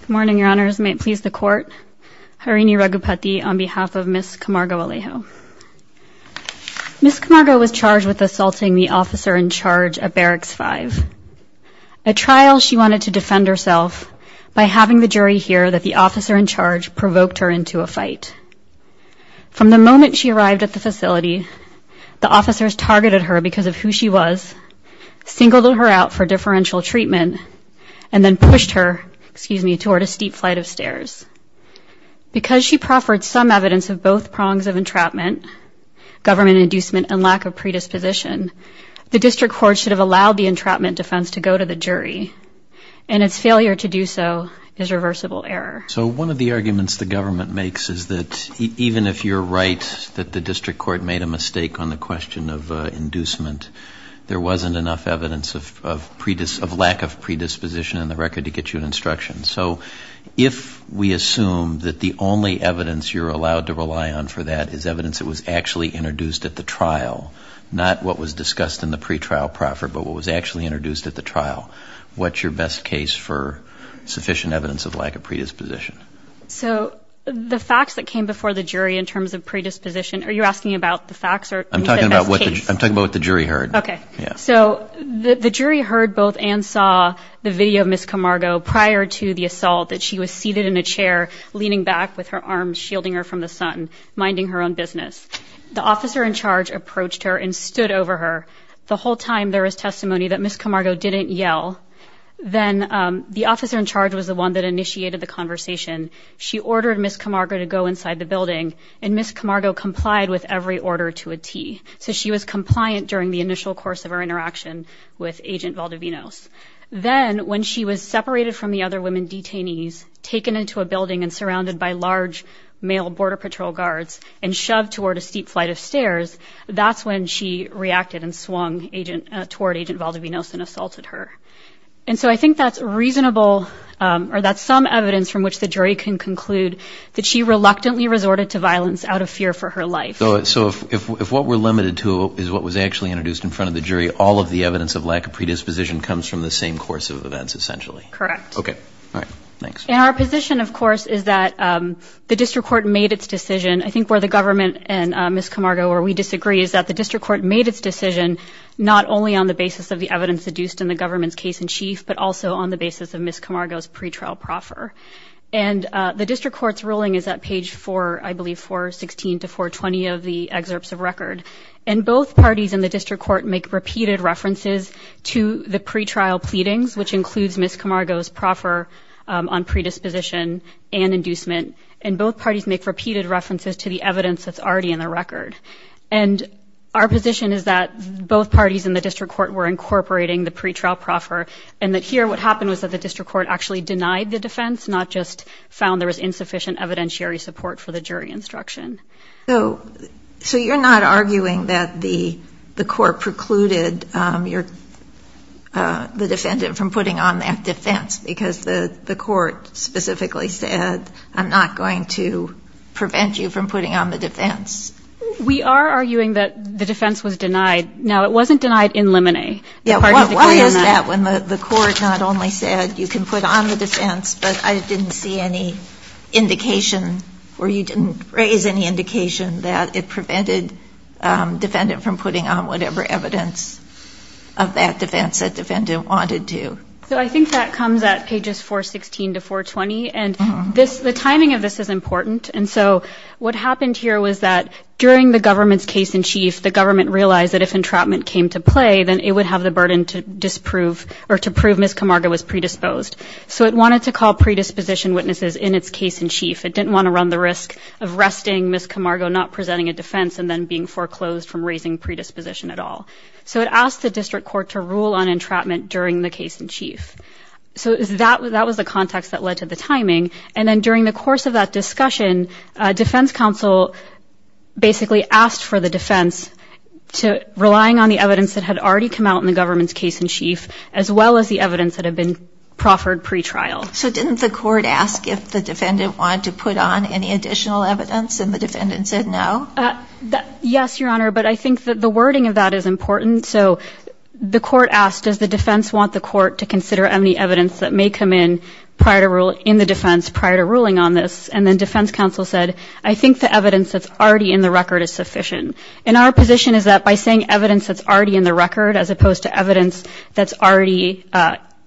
Good morning, your honors. May it please the court. Harini Raghupati on behalf of Ms. Camargo-Alejo. Ms. Camargo was charged with assaulting the officer in charge of Barracks 5, a trial she wanted to defend herself by having the jury hear that the officer in charge provoked her into a fight. From the moment she arrived at the facility, the officers targeted her because of who she was, singled her out for differential treatment, and then pushed her, excuse me, toward a steep flight of stairs. Because she proffered some evidence of both prongs of entrapment, government inducement, and lack of predisposition, the district court should have allowed the entrapment defense to go to the jury, and its failure to do so is reversible error. So one of the arguments the government makes is that even if you're right that the district court made a prong of inducement, there wasn't enough evidence of lack of predisposition in the record to get you an instruction. So if we assume that the only evidence you're allowed to rely on for that is evidence that was actually introduced at the trial, not what was discussed in the pretrial proffer, but what was actually introduced at the trial, what's your best case for sufficient evidence of lack of predisposition? So the facts that came before the jury in terms of predisposition, are you asking about the facts? I'm talking about what the jury heard. Okay, so the jury heard both and saw the video of Ms. Camargo prior to the assault, that she was seated in a chair leaning back with her arms shielding her from the sun, minding her own business. The officer in charge approached her and stood over her. The whole time there was testimony that Ms. Camargo didn't yell. Then the officer in charge was the one that initiated the conversation. She ordered Ms. Camargo to go inside the building, and Ms. Camargo with every order to a tee. So she was compliant during the initial course of her interaction with Agent Valdovinos. Then when she was separated from the other women detainees, taken into a building and surrounded by large male border patrol guards, and shoved toward a steep flight of stairs, that's when she reacted and swung agent toward Agent Valdovinos and assaulted her. And so I think that's reasonable, or that's some evidence from which the jury can her life. So if what we're limited to is what was actually introduced in front of the jury, all of the evidence of lack of predisposition comes from the same course of events, essentially. Correct. Okay, all right, thanks. And our position, of course, is that the district court made its decision. I think where the government and Ms. Camargo, where we disagree, is that the district court made its decision not only on the basis of the evidence seduced in the government's case-in-chief, but also on the basis of Ms. Camargo's pretrial proffer. And the 20 of the excerpts of record. And both parties in the district court make repeated references to the pretrial pleadings, which includes Ms. Camargo's proffer on predisposition and inducement. And both parties make repeated references to the evidence that's already in the record. And our position is that both parties in the district court were incorporating the pretrial proffer, and that here what happened was that the district court actually denied the defense, not just found there was insufficient evidentiary support for the defense. So you're not arguing that the court precluded the defendant from putting on that defense, because the court specifically said, I'm not going to prevent you from putting on the defense. We are arguing that the defense was denied. Now, it wasn't denied in limine. Why is that when the court not only said you can put on the defense, but I didn't see any indication or you didn't raise any indication that it prevented defendant from putting on whatever evidence of that defense that defendant wanted to? So I think that comes at pages 416 to 420. And the timing of this is important. And so what happened here was that during the government's case-in-chief, the government realized that if entrapment came to play, then it would have the burden to disprove or to prove Ms. Camargo was predisposed. So it wanted to call predisposition witnesses in its case-in-chief. It didn't want to run the risk of arresting Ms. Camargo, not presenting a defense, and then being foreclosed from raising predisposition at all. So it asked the district court to rule on entrapment during the case-in-chief. So that was the context that led to the timing. And then during the course of that discussion, defense counsel basically asked for the defense to, relying on the evidence that had already come out in the government's case-in-chief, as well as the evidence that had been proffered pretrial. So didn't the court ask if the defendant wanted to put on any additional evidence, and the defendant said no? Yes, Your Honor. But I think that the wording of that is important. So the court asked, does the defense want the court to consider any evidence that may come in prior to ruling, in the defense prior to ruling on this? And then defense counsel said, I think the evidence that's already in the record is sufficient. And our position is that by saying evidence that's already in the record, as opposed to evidence that's already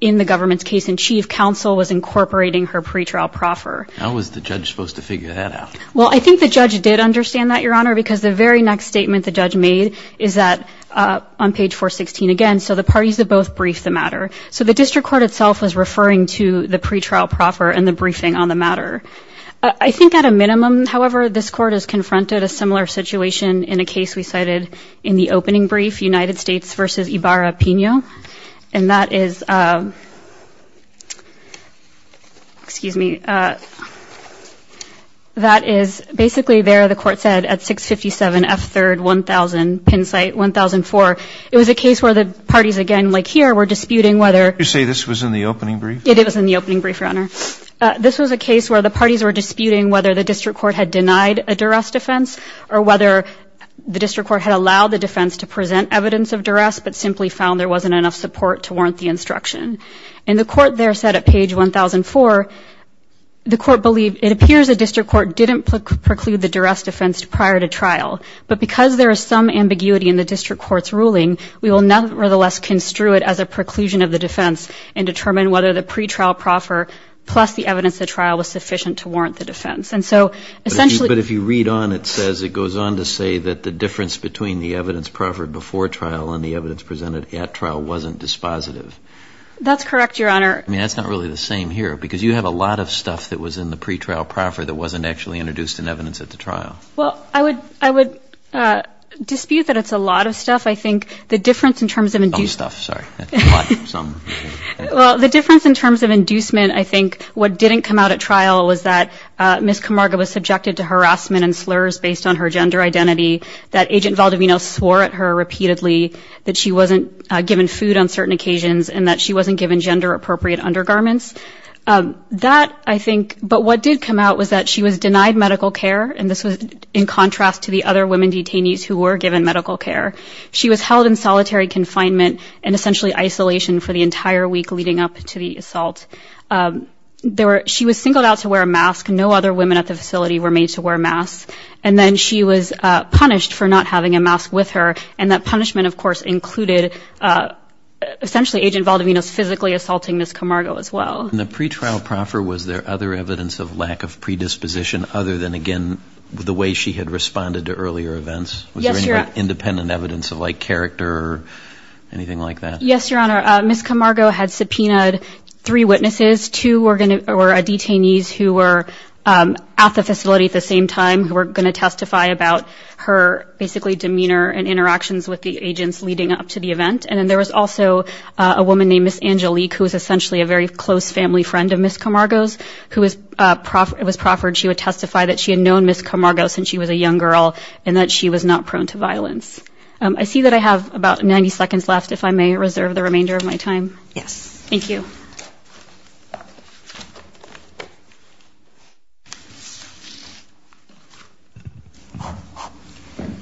in the government's case-in-chief, counsel was incorporating her pretrial proffer. How was the judge supposed to figure that out? Well, I think the judge did understand that, Your Honor, because the very next statement the judge made is that, on page 416 again, so the parties that both briefed the matter. So the district court itself was referring to the pretrial proffer and the briefing on the matter. I think at a minimum, however, this court has confronted a similar situation in a case we cited in the opening brief, United States v. Ibarra-Pino. And that is, excuse me, that is basically there the court said at 657 F. 3rd, 1000 Penn site, 1004. It was a case where the parties, again, like here, were disputing whether- You say this was in the opening brief? It was in the opening brief, Your Honor. This was a case where the parties were disputing whether the district court had denied a duress defense or whether the evidence of duress, but simply found there wasn't enough support to warrant the instruction. And the court there said at page 1004, the court believed, it appears the district court didn't preclude the duress defense prior to trial. But because there is some ambiguity in the district court's ruling, we will nevertheless construe it as a preclusion of the defense and determine whether the pretrial proffer plus the evidence of trial was sufficient to warrant the defense. And so essentially- But if you read on, it says, it goes on to say that the difference between the evidence at trial and the evidence presented at trial wasn't dispositive. That's correct, Your Honor. I mean, that's not really the same here, because you have a lot of stuff that was in the pretrial proffer that wasn't actually introduced in evidence at the trial. Well, I would dispute that it's a lot of stuff. I think the difference in terms of- Some stuff, sorry. A lot of some. Well, the difference in terms of inducement, I think, what didn't come out at trial was that Ms. Camargo was subjected to harassment and slurs based on her disability, that she wasn't given food on certain occasions, and that she wasn't given gender-appropriate undergarments. That, I think- But what did come out was that she was denied medical care, and this was in contrast to the other women detainees who were given medical care. She was held in solitary confinement and essentially isolation for the entire week leading up to the assault. She was singled out to wear a mask. No other women at the facility were made to wear masks. And then she was punished for not having a mask with her, and that punishment, of course, included essentially Agent Valdivino's physically assaulting Ms. Camargo as well. In the pretrial proffer, was there other evidence of lack of predisposition other than, again, the way she had responded to earlier events? Yes, Your Honor. Was there any independent evidence of, like, character or anything like that? Yes, Your Honor. Ms. Camargo had subpoenaed three witnesses. Two were detainees who were at the facility at the same time who were going to testify about her, basically, demeanor and interactions with the agents leading up to the event. And then there was also a woman named Ms. Angelique, who was essentially a very close family friend of Ms. Camargo's, who was proffered. She would testify that she had known Ms. Camargo since she was a young girl and that she was not prone to violence. I see that I have about 90 seconds left, if I may reserve the remainder of my time. Yes. Thank you.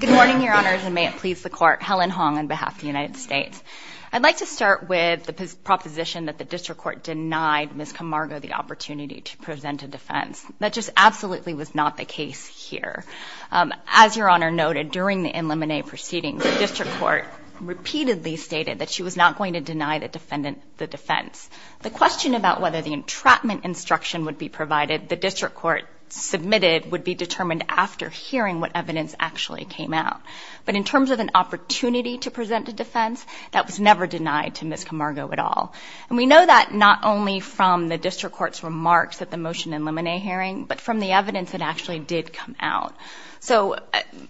Good morning, Your Honors, and may it please the Court. Helen Hong on behalf of the United States. I'd like to start with the proposition that the district court denied Ms. Camargo the opportunity to present a defense. That just absolutely was not the case here. As Your Honor noted, during the in limine proceedings, the district court repeatedly stated that she was not going to deny the defendant the defense. The question about whether the entrapment instruction would be provided, the district court submitted, would be determined after hearing what evidence actually came out. But in terms of an opportunity to present a defense, that was never denied to Ms. Camargo at all. And we know that not only from the district court's remarks at the motion in limine hearing, but from the evidence that actually did come out. So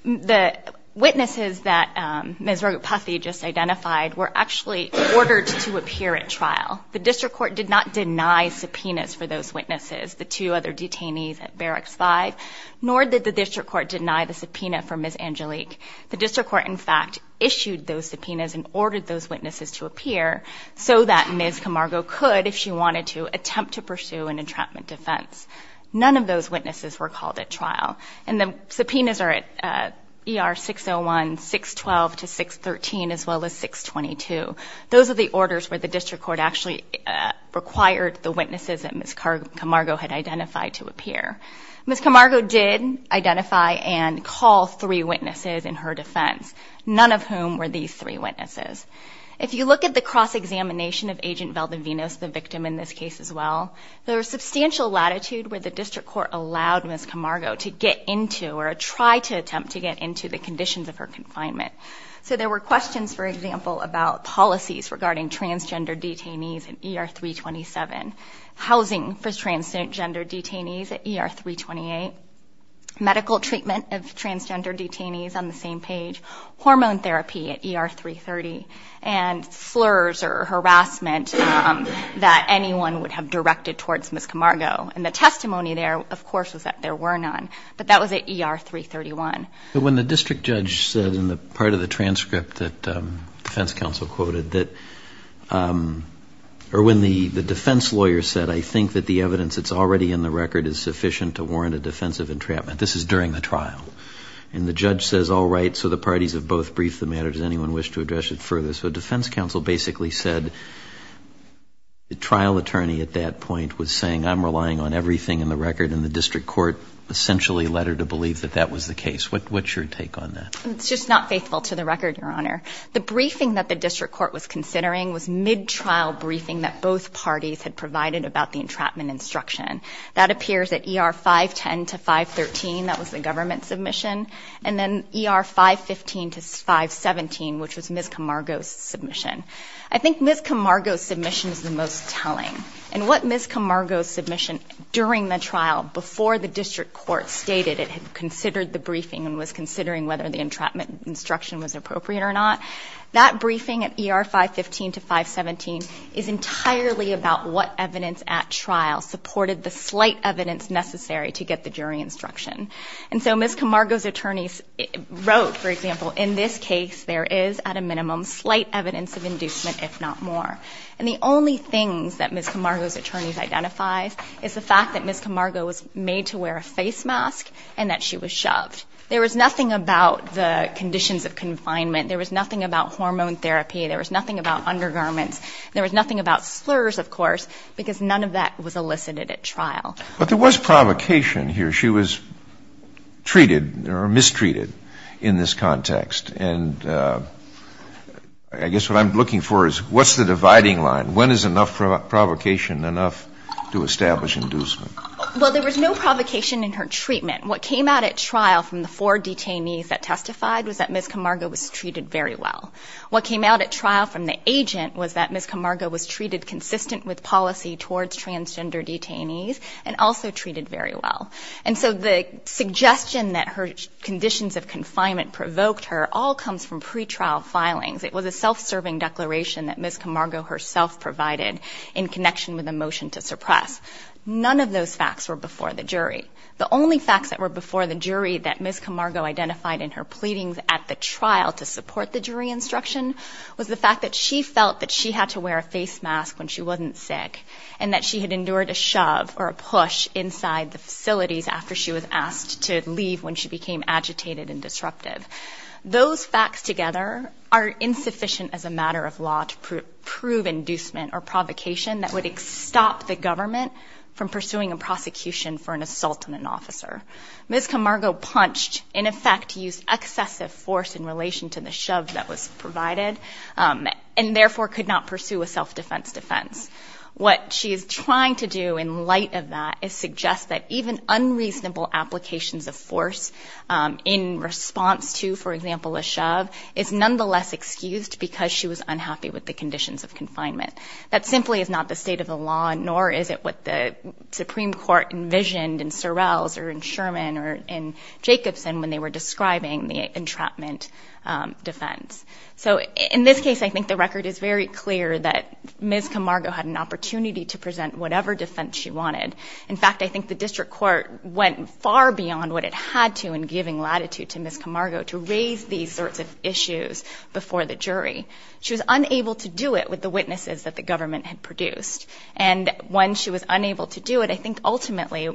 the witnesses that Ms. Rogopathy just identified were actually ordered to appear at trial. The district court did not deny subpoenas for those other detainees at Barracks 5, nor did the district court deny the subpoena for Ms. Angelique. The district court, in fact, issued those subpoenas and ordered those witnesses to appear so that Ms. Camargo could, if she wanted to, attempt to pursue an entrapment defense. None of those witnesses were called at trial. And the subpoenas are at ER 601, 612 to 613, as well as 622. Those are the orders where the district court actually required the witnesses that Ms. Camargo had identified to appear. Ms. Camargo did identify and call three witnesses in her defense, none of whom were these three witnesses. If you look at the cross-examination of Agent Valdivenos, the victim in this case as well, there was substantial latitude where the district court allowed Ms. Camargo to get into or try to attempt to get into the conditions of her confinement. So there were questions, for example, about policies regarding transgender detainees in ER 327, housing for transgender detainees at ER 328, medical treatment of transgender detainees on the same page, hormone therapy at ER 330, and slurs or harassment that anyone would have directed towards Ms. Camargo. And the testimony there, of course, was that there were none, but that was at ER 331. When the district judge said in the part of the transcript that defense counsel quoted that, or when the defense lawyer said, I think that the evidence that's already in the record is sufficient to warrant a defensive entrapment. This is during the trial. And the judge says, all right. So the parties have both briefed the matter. Does anyone wish to address it further? So defense counsel basically said the trial attorney at that point was saying I'm relying on everything in the record and the district court essentially led her to believe that that was the case. What's your take on that? It's just not faithful to the record, Your Honor. The briefing that the district court was considering was mid-trial briefing that both parties had provided about the entrapment instruction. That appears at ER 510 to 513. That was the government submission. And then ER 515 to 517, which was Ms. Camargo's submission. I think Ms. Camargo's submission is the most telling. And what Ms. Camargo's submission during the trial, before the district court stated it had considered the briefing and was not, that briefing at ER 515 to 517 is entirely about what evidence at trial supported the slight evidence necessary to get the jury instruction. And so Ms. Camargo's attorneys wrote, for example, in this case, there is at a minimum slight evidence of inducement, if not more. And the only things that Ms. Camargo's attorneys identifies is the fact that Ms. Camargo was made to wear a face mask and that she was shoved. There was nothing about the conditions of confinement. There was nothing about hormone therapy. There was nothing about undergarments. There was nothing about slurs of course, because none of that was elicited at trial. But there was provocation here. She was treated or mistreated in this context. And I guess what I'm looking for is what's the dividing line? When is enough provocation enough to establish inducement? Well, there was no provocation in her treatment. What came out at trial from the four detainees that testified was that Ms. Camargo was treated very well. What came out at trial from the agent was that Ms. Camargo was treated consistent with policy towards transgender detainees and also treated very well. And so the suggestion that her conditions of confinement provoked her all comes from pretrial filings. It was a self-serving declaration that Ms. Camargo herself provided in connection with a motion to suppress. None of those facts were before the jury. The only facts that were before the jury that Ms. Camargo provided at trial to support the jury instruction was the fact that she felt that she had to wear a face mask when she wasn't sick and that she had endured a shove or a push inside the facilities after she was asked to leave when she became agitated and disruptive. Those facts together are insufficient as a matter of law to prove inducement or provocation that would stop the government from pursuing a prosecution for an assault on an officer. Ms. Camargo punched in effect to use excessive force in relation to the shove that was provided and therefore could not pursue a self-defense defense. What she is trying to do in light of that is suggest that even unreasonable applications of force in response to, for example, a shove is nonetheless excused because she was unhappy with the conditions of confinement. That simply is not the state of the law, nor is it what the Supreme Court envisioned in Sorrell's or in Sherman or in Jacobson when they were describing the entrapment defense. So in this case, I think the record is very clear that Ms. Camargo had an opportunity to present whatever defense she wanted. In fact, I think the district court went far beyond what it had to in giving latitude to Ms. Camargo to raise these sorts of issues before the jury. She was unable to do it with the witnesses that the government had produced. And when she was unable to do it, I think ultimately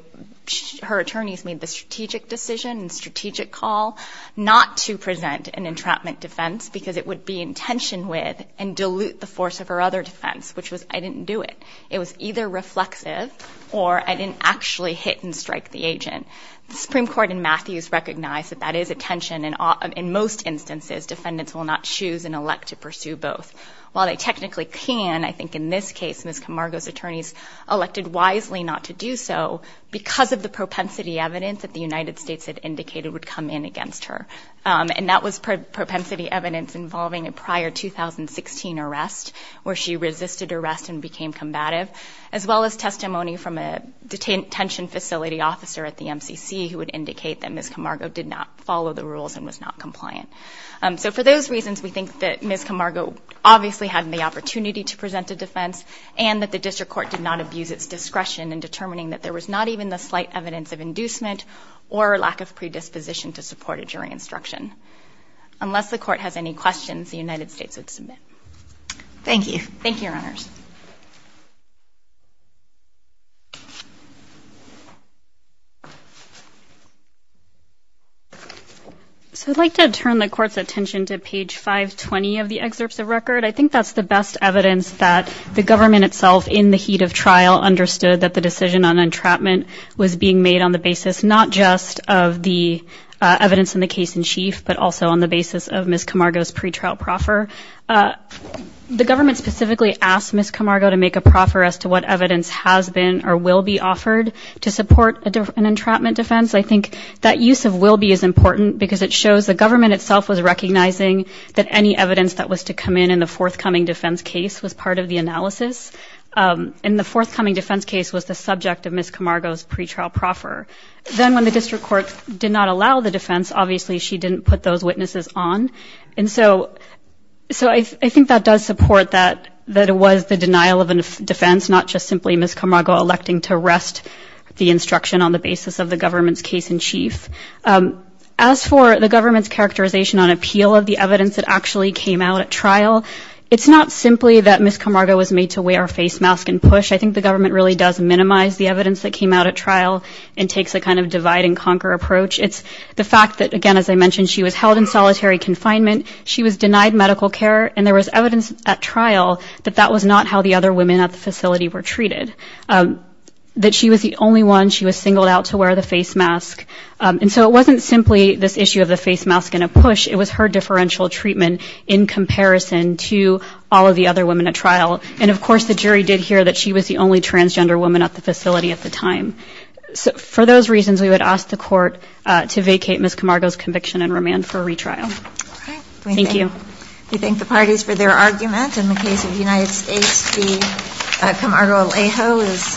her attorneys made the strategic decision and strategic call not to present an entrapment defense because it would be in tension with and dilute the force of her other defense, which was, I didn't do it. It was either reflexive or I didn't actually hit and strike the agent. The Supreme Court in Matthews recognized that that is a tension and in most instances, defendants will not choose and elect to pursue both. While they technically can, I think in this case, Ms. Camargo's attorneys elected wisely not to do so because of the propensity evidence that the United States had indicated would come in against her. And that was propensity evidence involving a prior 2016 arrest where she resisted arrest and became combative as well as testimony from a detention facility officer at the MCC who would indicate that Ms. Camargo did not follow the rules and was not compliant. So for those reasons, we think that Ms. Camargo obviously had the opportunity to present a defense and that the district court did not abuse its discretion in determining that there was not even the slight evidence of inducement or lack of predisposition to support a jury instruction. Unless the court has any questions, the United States would submit. Thank you. Thank you, Your Honors. So I'd like to turn the court's attention to page 520 of the excerpts of record. I think that's the best evidence that the government itself in the heat of trial understood that the decision on entrapment was being made on the basis not just of the evidence in the case in chief, but also on the basis of Ms. Camargo's pre-trial proffer. Ms. Camargo to make a proffer as to what evidence has been or will be offered to support an entrapment defense. I think that use of will be as important because it shows the government itself was recognizing that any evidence that was to come in in the forthcoming defense case was part of the analysis. Um, and the forthcoming defense case was the subject of Ms. Camargo's pretrial proffer. Then when the district court did not allow the defense, obviously she didn't put those witnesses on. And so, so I, I think that does support that, that it was the denial of a defense, not just simply Ms. Camargo electing to arrest the instruction on the basis of the government's case in chief. Um, as for the government's characterization on appeal of the evidence that actually came out at trial, it's not simply that Ms. Camargo was made to wear a face mask and push. I think the government really does minimize the evidence that came out at trial and takes a kind of divide and conquer approach. It's the fact that, again, as I mentioned, she was held in solitary confinement. She was denied medical care and there was evidence at trial that that was not how the other women at the facility were treated, um, that she was the only one she was singled out to wear the face mask. Um, and so it wasn't simply this issue of the face mask and a push. It was her differential treatment in comparison to all of the other women at trial. And of course the jury did hear that she was the only transgender woman at the facility at the time. So for those reasons, we would ask the court, uh, to vacate Ms. Camargo's conviction and remand for retrial. Thank you. We thank the parties for their argument. In the case of United States, the Camargo-Alejo is.